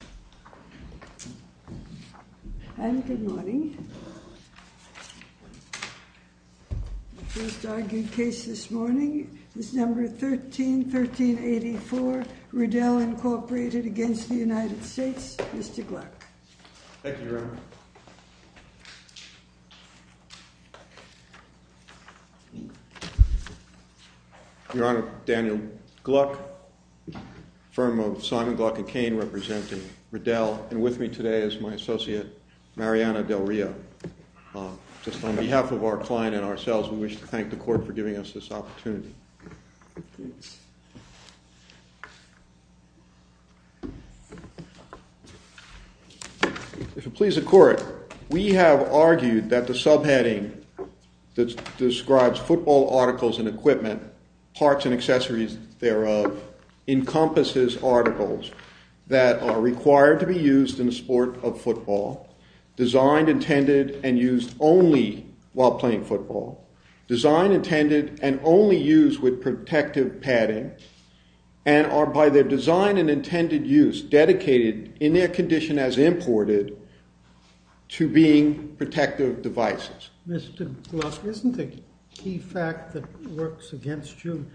Riddell, Inc. v. United States Mr. Gluck. Thank you, Your Honor. Your Honor, Daniel Gluck, firm of Simon, Gluck & Cain, representing Riddell, and with me today is my associate, Mariana Del Rio. Just on behalf of our client and ourselves, we wish to thank the Court for giving us this opportunity. If it pleases the Court, we have argued that the subheading that describes football articles and equipment, parts and accessories thereof, encompasses articles that are required to be used in the sport of football, designed, intended, and used only while playing football, designed, intended, and only used with protective padding, and are, by their design and intended use, dedicated, in their condition as imported, to being protective devices. Mr. Gluck, isn't the key fact that works against you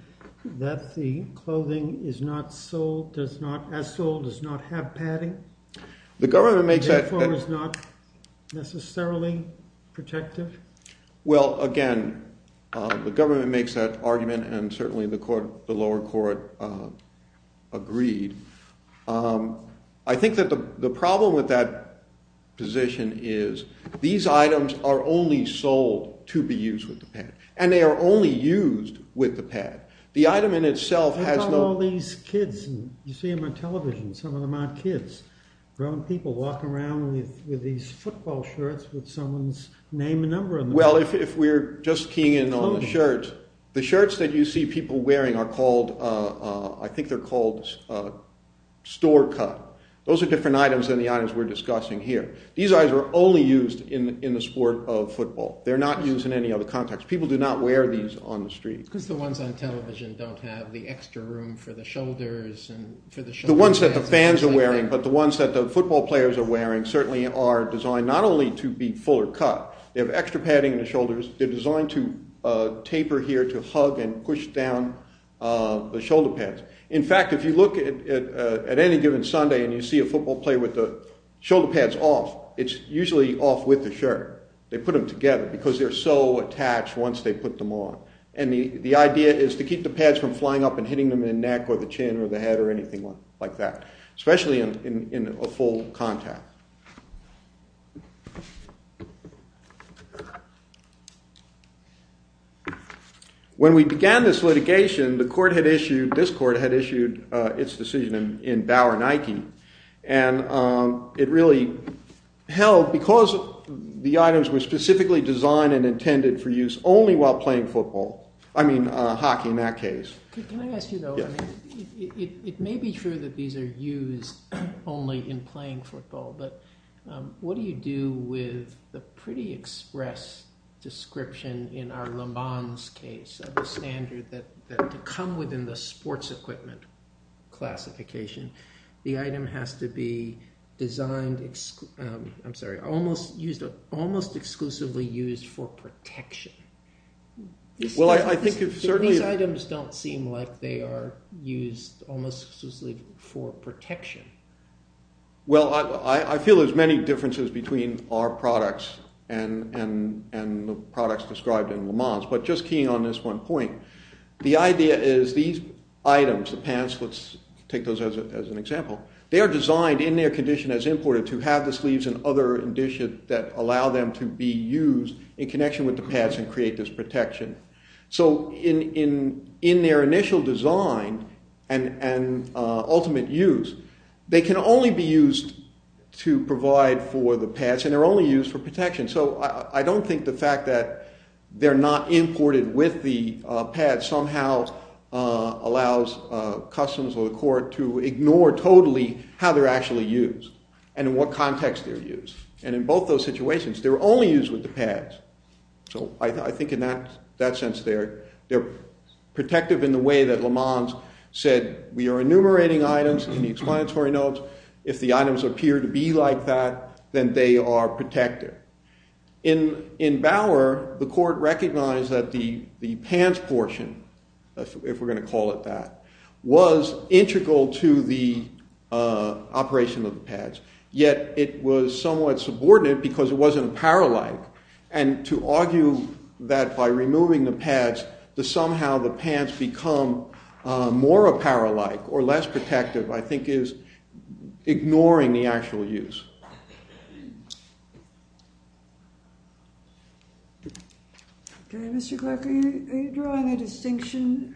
that the clothing is not sold, does not, as sold, does not have padding? The government makes that... Therefore, is not necessarily protective? Well, again, the government makes that argument, and certainly the lower court agreed. I think that the problem with that position is these items are only sold to be used with the pad, and they are only used with the pad. The item in itself has no... What about all these kids? You see them on television, some of them aren't kids. Grown people walk around with these football shirts with someone's name and number on them. Well, if we're just keying in on the shirts, the shirts that you see people wearing are called, I think they're called store cut. Those are different items than the items we're discussing here. These items are only used in the sport of football. They're not used in any other context. People do not wear these on the street. Because the ones on television don't have the extra room for the shoulders and... The ones that the fans are wearing, but the ones that the football players are wearing certainly are designed not only to be fuller cut, they have extra padding in the shoulders, they're designed to taper here to hug and push down the shoulder pads. In fact, if you look at any given Sunday and you see a football player with the shoulder pads off, it's usually off with the shirt. They put them together because they're so attached once they put them on. And the idea is to keep the pads from flying up and hitting them in the neck or the chin or the head or anything like that. Especially in a full contact. When we began this litigation, the court had issued, this court had issued its decision in Bauer Nike. And it really held because the items were specifically designed and intended for use only while playing football. I mean hockey in that case. Can I ask you though, it may be true that these are used only in playing football. But what do you do with the pretty express description in our Le Mans case of the standard that to come within the sports equipment classification, the item has to be designed, I'm sorry, almost exclusively used for protection. These items don't seem like they are used almost exclusively for protection. Well, I feel there's many differences between our products and the products described in Le Mans. But just keying on this one point. The idea is these items, the pants, let's take those as an example. They are designed in their condition as imported to have the sleeves and other additions that allow them to be used in connection with the pads and create this protection. So in their initial design and ultimate use, they can only be used to provide for the pads and they're only used for protection. So I don't think the fact that they're not imported with the pads somehow allows customers or the court to ignore totally how they're actually used and in what context they're used. And in both those situations, they're only used with the pads. So I think in that sense, they're protective in the way that Le Mans said we are enumerating items in the explanatory notes. If the items appear to be like that, then they are protective. In Bauer, the court recognized that the pants portion, if we're going to call it that, was integral to the operation of the pads. Yet it was somewhat subordinate because it wasn't apparel-like. And to argue that by removing the pads, that somehow the pants become more apparel-like or less protective, I think is ignoring the actual use. Okay, Mr. Clark, are you drawing a distinction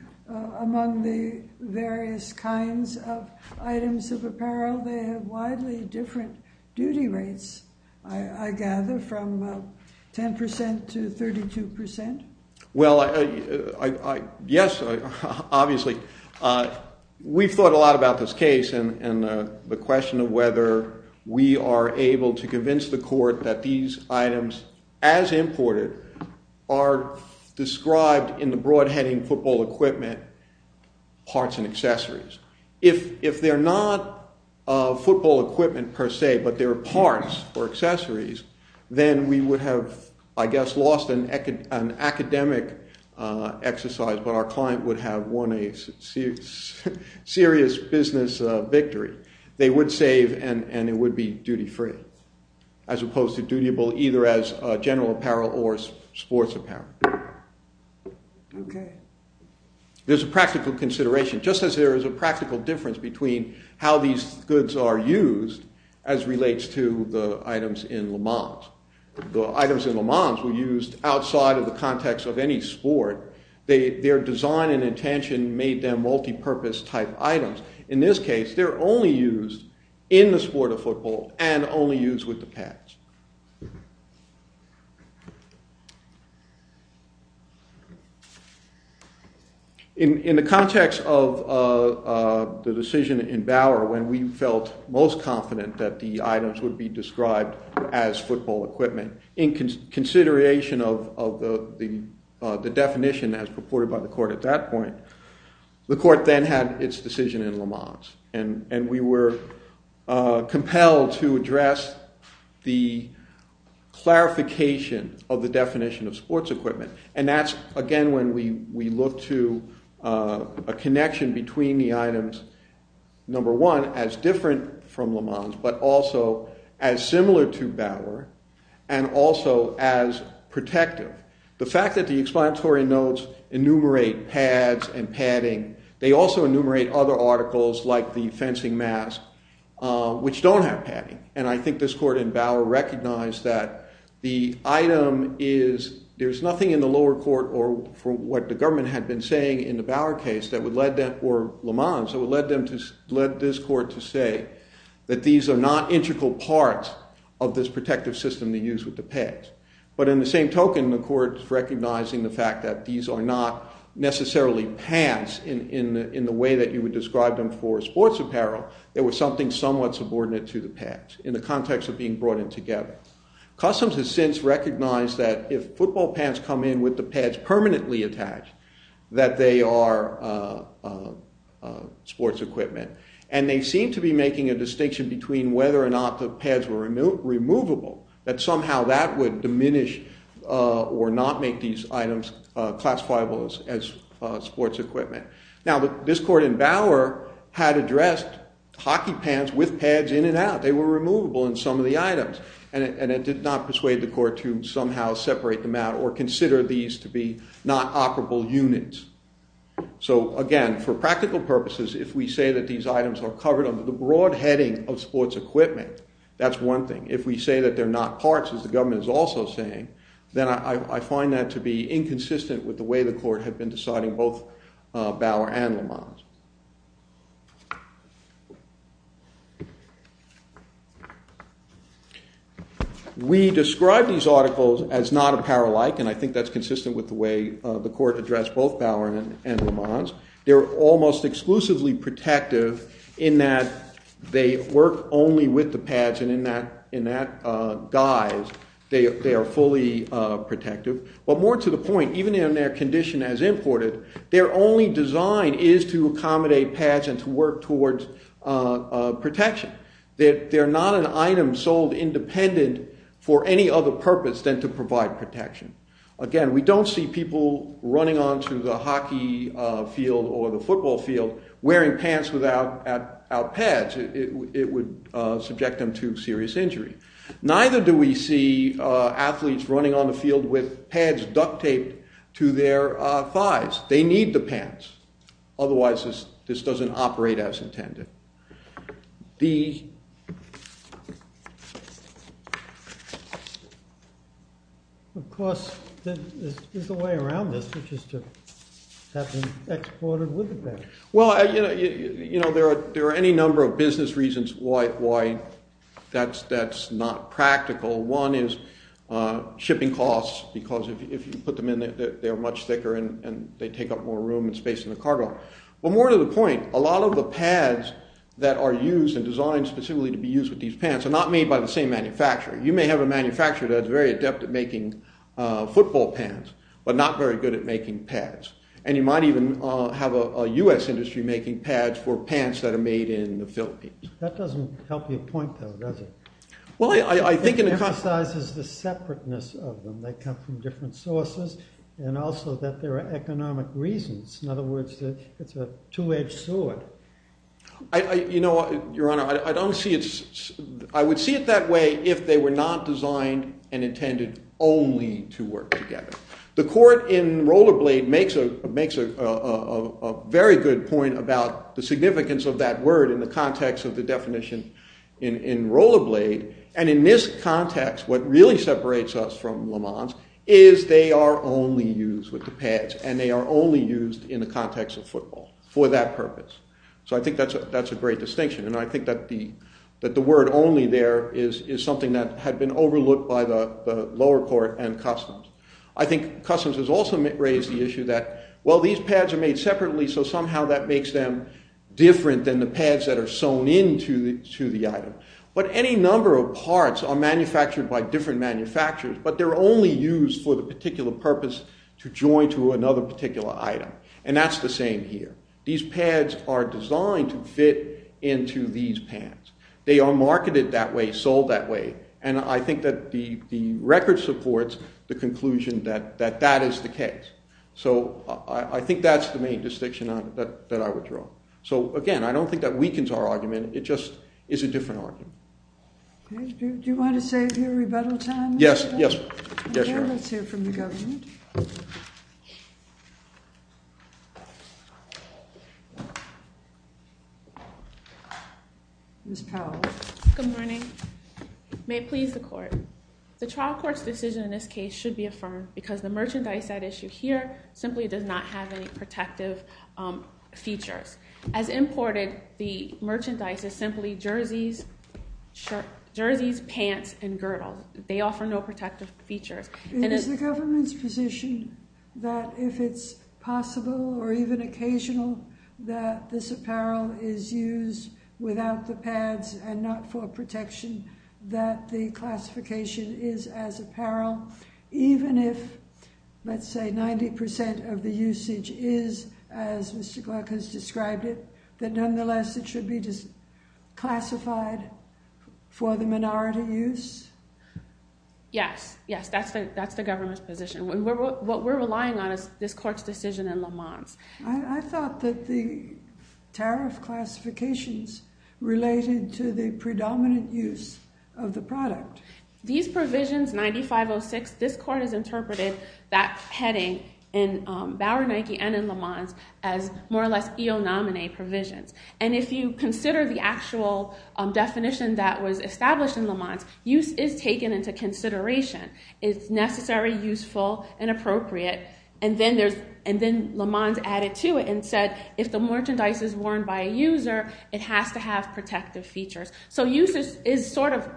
among the various kinds of items of apparel? They have widely different duty rates, I gather, from 10% to 32%. Well, yes, obviously. We've thought a lot about this case and the question of whether we are able to convince the court that these items, as imported, are described in the broad-heading football equipment parts and accessories. If they're not football equipment per se, but they're parts or accessories, then we would have, I guess, lost an academic exercise, but our client would have won a serious business victory. They would save and it would be duty-free, as opposed to dutiable either as general apparel or sports apparel. Okay. There's a practical consideration, just as there is a practical difference between how these goods are used as relates to the items in Le Mans. The items in Le Mans were used outside of the context of any sport. Their design and intention made them multipurpose-type items. In this case, they're only used in the sport of football and only used with the pads. In the context of the decision in Bauer when we felt most confident that the items would be described as football equipment, in consideration of the definition as purported by the court at that point, the court then had its decision in Le Mans, and we were compelled to address the clarification of the definition of sports equipment. And that's, again, when we look to a connection between the items, number one, as different from Le Mans, but also as similar to Bauer, and also as protective. The fact that the explanatory notes enumerate pads and padding, they also enumerate other articles like the fencing mask, which don't have padding. And I think this court in Bauer recognized that the item is – there's nothing in the lower court or from what the government had been saying in the Bauer case that would lead them – or Le Mans – that would lead this court to say that these are not integral parts of this protective system they use with the pads. But in the same token, the court is recognizing the fact that these are not necessarily pads in the way that you would describe them for sports apparel. They were something somewhat subordinate to the pads in the context of being brought in together. Customs has since recognized that if football pants come in with the pads permanently attached, that they are sports equipment. And they seem to be making a distinction between whether or not the pads were removable, that somehow that would diminish or not make these items classifiable as sports equipment. Now, this court in Bauer had addressed hockey pants with pads in and out. They were removable in some of the items. And it did not persuade the court to somehow separate them out or consider these to be not operable units. So, again, for practical purposes, if we say that these items are covered under the broad heading of sports equipment, that's one thing. If we say that they're not parts, as the government is also saying, then I find that to be inconsistent with the way the court had been deciding both Bauer and Le Mans. We describe these articles as not apparel-like, and I think that's consistent with the way the court addressed both Bauer and Le Mans. They're almost exclusively protective in that they work only with the pads, and in that guise, they are fully protective. But more to the point, even in their condition as imported, their only design is to accommodate pads and to work towards protection. They're not an item sold independent for any other purpose than to provide protection. Again, we don't see people running onto the hockey field or the football field wearing pants without pads. It would subject them to serious injury. Neither do we see athletes running on the field with pads duct-taped to their thighs. They need the pants. Otherwise, this doesn't operate as intended. Of course, there's a way around this, which is to have them exported with the pads. There are any number of business reasons why that's not practical. One is shipping costs, because if you put them in, they're much thicker and they take up more room and space in the cargo. But more to the point, a lot of the pads that are used and designed specifically to be used with these pants are not made by the same manufacturer. You may have a manufacturer that's very adept at making football pants, but not very good at making pads. And you might even have a US industry making pads for pants that are made in the Philippines. That doesn't help your point, though, does it? It emphasizes the separateness of them. They come from different sources, and also that there are economic reasons. In other words, it's a two-edged sword. You know, Your Honor, I would see it that way if they were not designed and intended only to work together. The court in Rollerblade makes a very good point about the significance of that word in the context of the definition in Rollerblade. And in this context, what really separates us from Lamont's is they are only used with the pads, and they are only used in the context of football for that purpose. So I think that's a great distinction. And I think that the word only there is something that had been overlooked by the lower court and customs. I think customs has also raised the issue that, well, these pads are made separately, so somehow that makes them different than the pads that are sewn into the item. But any number of parts are manufactured by different manufacturers, but they're only used for the particular purpose to join to another particular item. And that's the same here. These pads are designed to fit into these pants. They are marketed that way, sold that way. And I think that the record supports the conclusion that that is the case. So I think that's the main distinction that I would draw. So, again, I don't think that weakens our argument. It just is a different argument. Do you want to save your rebuttal time? Yes. Yes, Your Honor. Let's hear from the government. Ms. Powell. Good morning. May it please the court. The trial court's decision in this case should be affirmed because the merchandise at issue here simply does not have any protective features. As imported, the merchandise is simply jerseys, pants, and girdle. They offer no protective features. Is the government's position that if it's possible or even occasional that this apparel is used without the pads and not for protection, that the classification is as apparel, even if, let's say, 90% of the usage is, as Mr. Gluck has described it, that nonetheless it should be classified for the minority use? Yes. Yes, that's the government's position. What we're relying on is this court's decision in Lamont's. I thought that the tariff classifications related to the predominant use of the product. These provisions, 9506, this court has interpreted that heading in Bauer Nike and in Lamont's as more or less EO nominee provisions. If you consider the actual definition that was established in Lamont's, use is taken into consideration. It's necessary, useful, and appropriate. Then Lamont's added to it and said if the merchandise is worn by a user, it has to have protective features. Use is sort of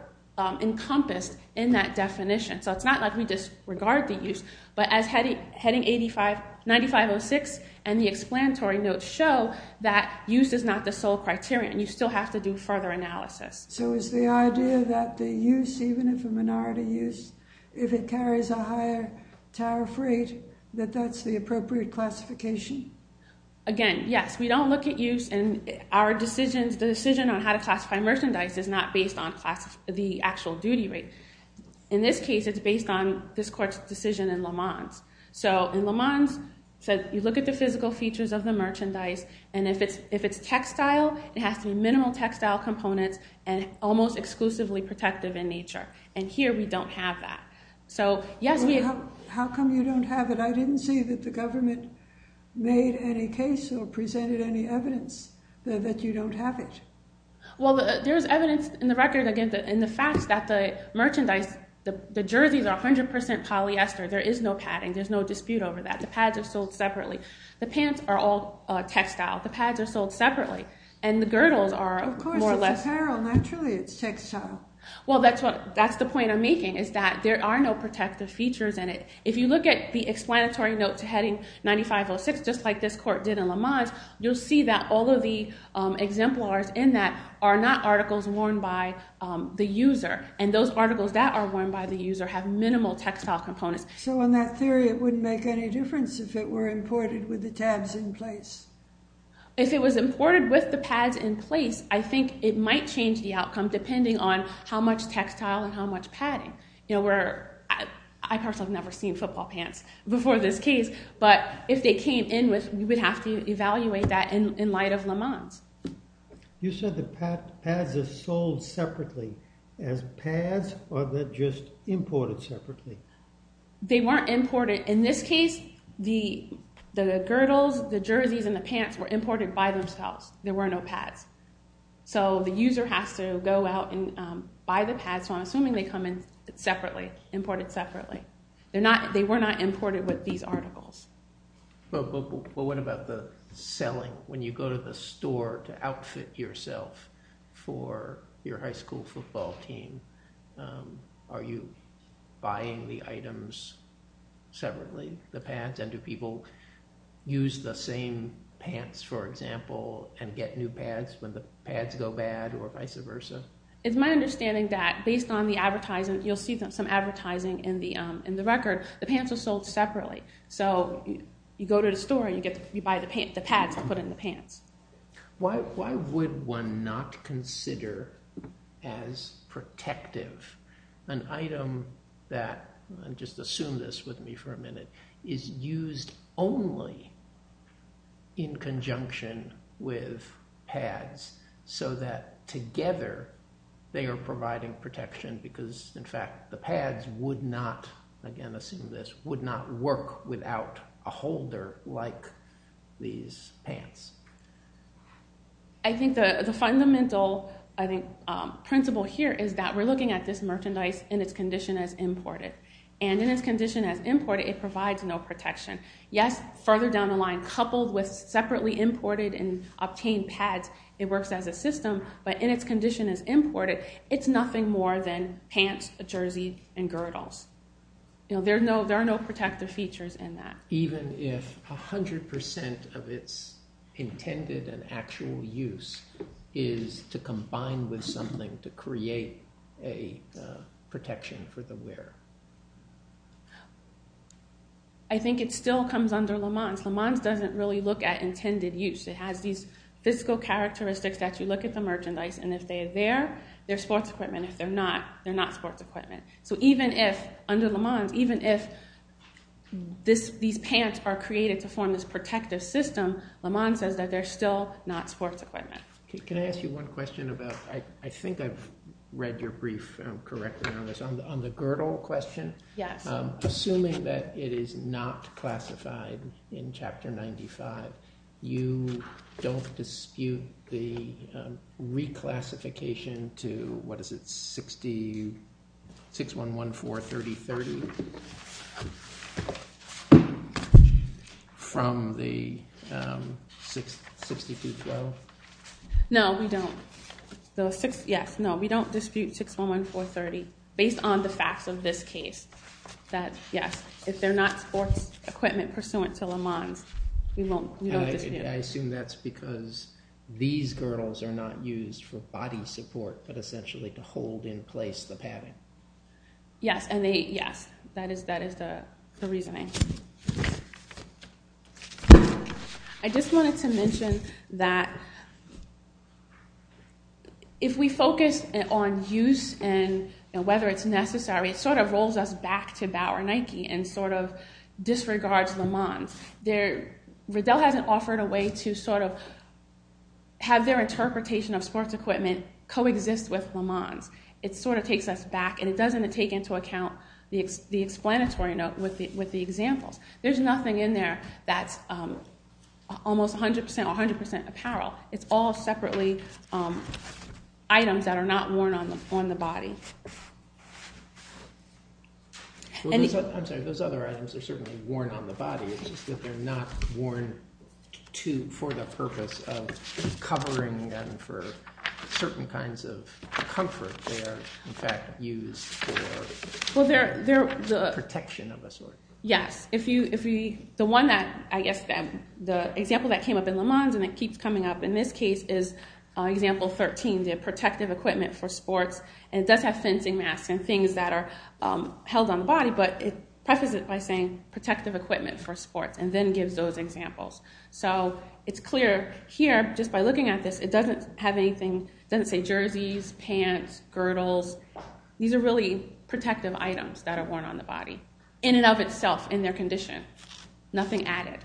encompassed in that definition. It's not like we disregard the use, but as heading 9506 and the explanatory notes show, that use is not the sole criterion. You still have to do further analysis. Is the idea that the use, even if a minority use, if it carries a higher tariff rate, that that's the appropriate classification? Again, yes. We don't look at use. Our decision on how to classify merchandise is not based on the actual duty rate. In this case, it's based on this court's decision in Lamont's. In Lamont's, you look at the physical features of the merchandise. If it's textile, it has to be minimal textile components and almost exclusively protective in nature. Here, we don't have that. How come you don't have it? I didn't see that the government made any case or presented any evidence that you don't have it. Well, there's evidence in the record, again, in the facts that the merchandise, the jerseys are 100% polyester. There is no padding. There's no dispute over that. The pads are sold separately. The pants are all textile. The pads are sold separately, and the girdles are more or less— Of course, it's apparel. Naturally, it's textile. Well, that's the point I'm making is that there are no protective features in it. If you look at the explanatory note to heading 9506, just like this court did in Lamont's, you'll see that all of the exemplars in that are not articles worn by the user, and those articles that are worn by the user have minimal textile components. So in that theory, it wouldn't make any difference if it were imported with the tabs in place? If it was imported with the pads in place, I think it might change the outcome, depending on how much textile and how much padding. I personally have never seen football pants before this case, but if they came in, we would have to evaluate that in light of Lamont's. You said the pads are sold separately as pads, or they're just imported separately? They weren't imported. In this case, the girdles, the jerseys, and the pants were imported by themselves. There were no pads. So the user has to go out and buy the pads. So I'm assuming they come in separately, imported separately. They were not imported with these articles. But what about the selling? When you go to the store to outfit yourself for your high school football team, are you buying the items separately, the pads? And do people use the same pants, for example, and get new pads when the pads go bad or vice versa? It's my understanding that based on the advertising, you'll see some advertising in the record, the pants are sold separately. So you go to the store and you buy the pads and put in the pants. Why would one not consider as protective an item that, and just assume this with me for a minute, is used only in conjunction with pads so that together they are providing protection? Because, in fact, the pads would not, again assume this, would not work without a holder like these pants. I think the fundamental principle here is that we're looking at this merchandise in its condition as imported. And in its condition as imported, it provides no protection. Yes, further down the line, coupled with separately imported and obtained pads, it works as a system, but in its condition as imported, it's nothing more than pants, a jersey, and girdles. There are no protective features in that. Even if 100% of its intended and actual use is to combine with something to create a protection for the wearer? I think it still comes under LeMans. LeMans doesn't really look at intended use. It has these physical characteristics that you look at the merchandise, and if they're there, they're sports equipment. If they're not, they're not sports equipment. So even if, under LeMans, even if these pants are created to form this protective system, LeMans says that they're still not sports equipment. Can I ask you one question about, I think I've read your brief correctly on this, on the girdle question? Yes. Assuming that it is not classified in Chapter 95, you don't dispute the reclassification to, what is it, 61143030 from the 62 Pro? No, we don't. Yes, no, we don't dispute 611430 based on the facts of this case. That, yes, if they're not sports equipment pursuant to LeMans, we don't dispute it. I assume that's because these girdles are not used for body support, but essentially to hold in place the padding. Yes, that is the reasoning. Okay. I just wanted to mention that if we focus on use and whether it's necessary, it sort of rolls us back to Bauer Nike and sort of disregards LeMans. Riddell hasn't offered a way to sort of have their interpretation of sports equipment coexist with LeMans. It sort of takes us back, and it doesn't take into account the explanatory note with the examples. There's nothing in there that's almost 100% apparel. It's all separately items that are not worn on the body. I'm sorry, those other items are certainly worn on the body. It's just that they're not worn for the purpose of covering them for certain kinds of comfort. They are, in fact, used for protection of a sort. Yes, the example that came up in LeMans and that keeps coming up in this case is example 13, the protective equipment for sports, and it does have fencing masks and things that are held on the body, but it prefaces it by saying protective equipment for sports and then gives those examples. So it's clear here, just by looking at this, it doesn't have anything. It doesn't say jerseys, pants, girdles. These are really protective items that are worn on the body in and of itself in their condition, nothing added.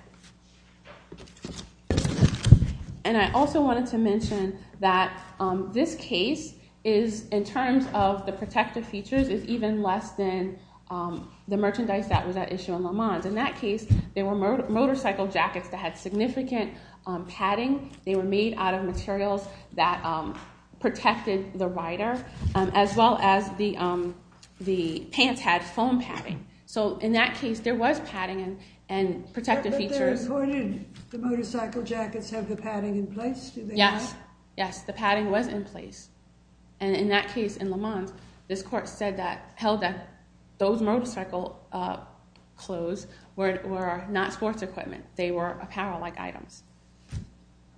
And I also wanted to mention that this case is, in terms of the protective features, is even less than the merchandise that was at issue in LeMans. In that case, they were motorcycle jackets that had significant padding. They were made out of materials that protected the rider, as well as the pants had foam padding. So in that case, there was padding and protective features. But they recorded the motorcycle jackets have the padding in place, do they not? Yes, yes, the padding was in place. And in that case in LeMans, this court held that those motorcycle clothes were not sports equipment. They were apparel-like items.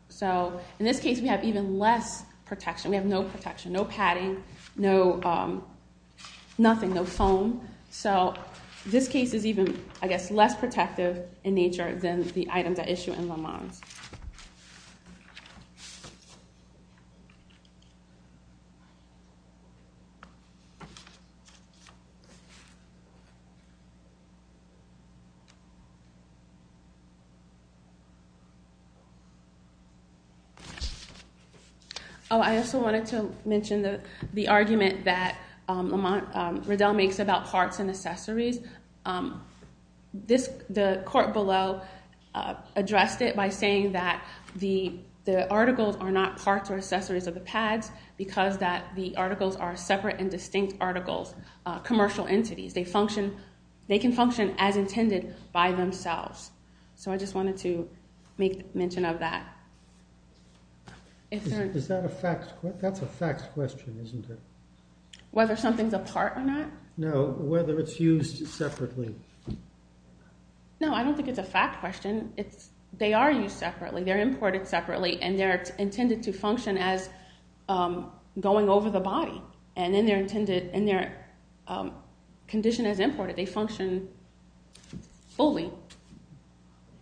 So in this case, we have even less protection. We have no protection, no padding, nothing, no foam. So this case is even, I guess, less protective in nature than the items at issue in LeMans. Oh, I also wanted to mention the argument that Riddell makes about parts and accessories. The court below addressed it by saying that the articles are not parts or accessories of the pads because the articles are separate and distinct articles, commercial entities. They can function as intended by themselves. So I just wanted to make mention of that. That's a facts question, isn't it? Whether something's a part or not? No, whether it's used separately. No, I don't think it's a facts question. They are used separately. They're imported separately, and they're intended to function as going over the body. And in their condition as imported, they function fully.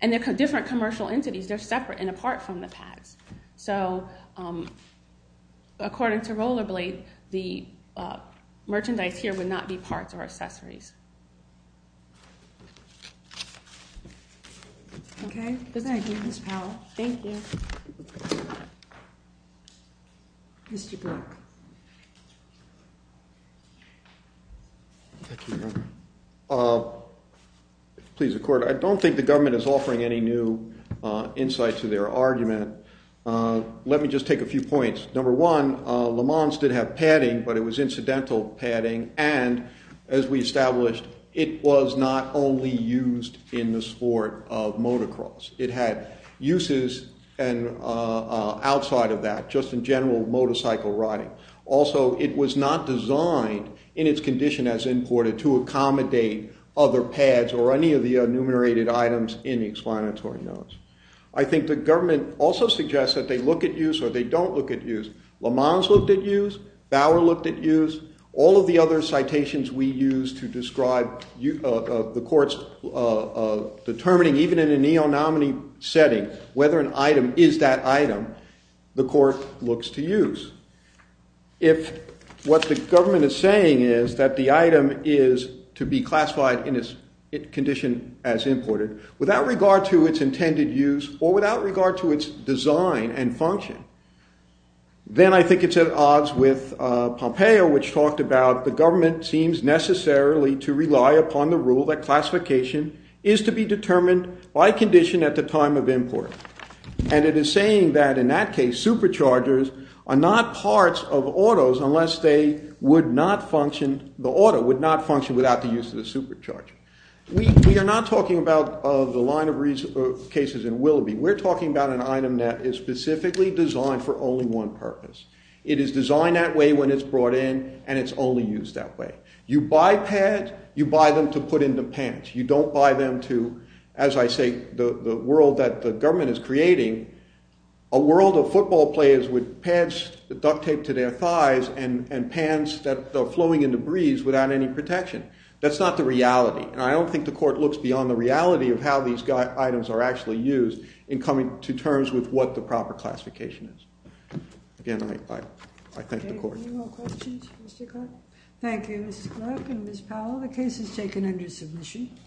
And they're different commercial entities. They're separate and apart from the pads. So according to Rollerblade, the merchandise here would not be parts or accessories. Okay. Thank you, Ms. Powell. Thank you. Mr. Burke. Thank you, Your Honor. Please, the court. I don't think the government is offering any new insight to their argument. Let me just take a few points. Number one, LeMans did have padding, but it was incidental padding. And as we established, it was not only used in the sport of motocross. It had uses outside of that, just in general motorcycle riding. Also, it was not designed in its condition as imported to accommodate other pads or any of the enumerated items in the explanatory notes. I think the government also suggests that they look at use or they don't look at use. LeMans looked at use. Bauer looked at use. All of the other citations we used to describe the court's determining, even in a neo-nominee setting, whether an item is that item, the court looks to use. If what the government is saying is that the item is to be classified in its condition as imported without regard to its intended use or without regard to its design and function, then I think it's at odds with Pompeo, which talked about the government seems necessarily to rely upon the rule that classification is to be determined by condition at the time of import. And it is saying that in that case, superchargers are not parts of autos unless they would not function, the auto would not function without the use of the supercharger. We are not talking about the line of cases in Willoughby. We're talking about an item that is specifically designed for only one purpose. It is designed that way when it's brought in, and it's only used that way. You buy pads, you buy them to put in the pants. You don't buy them to, as I say, the world that the government is creating, a world of football players with pads duct taped to their thighs and pants that are flowing in the breeze without any protection. That's not the reality, and I don't think the court looks beyond the reality of how these items are actually used in coming to terms with what the proper classification is. Again, I thank the court. Any more questions for Mr. Clark? Thank you, Mrs. Clark and Ms. Powell. The case is taken under submission.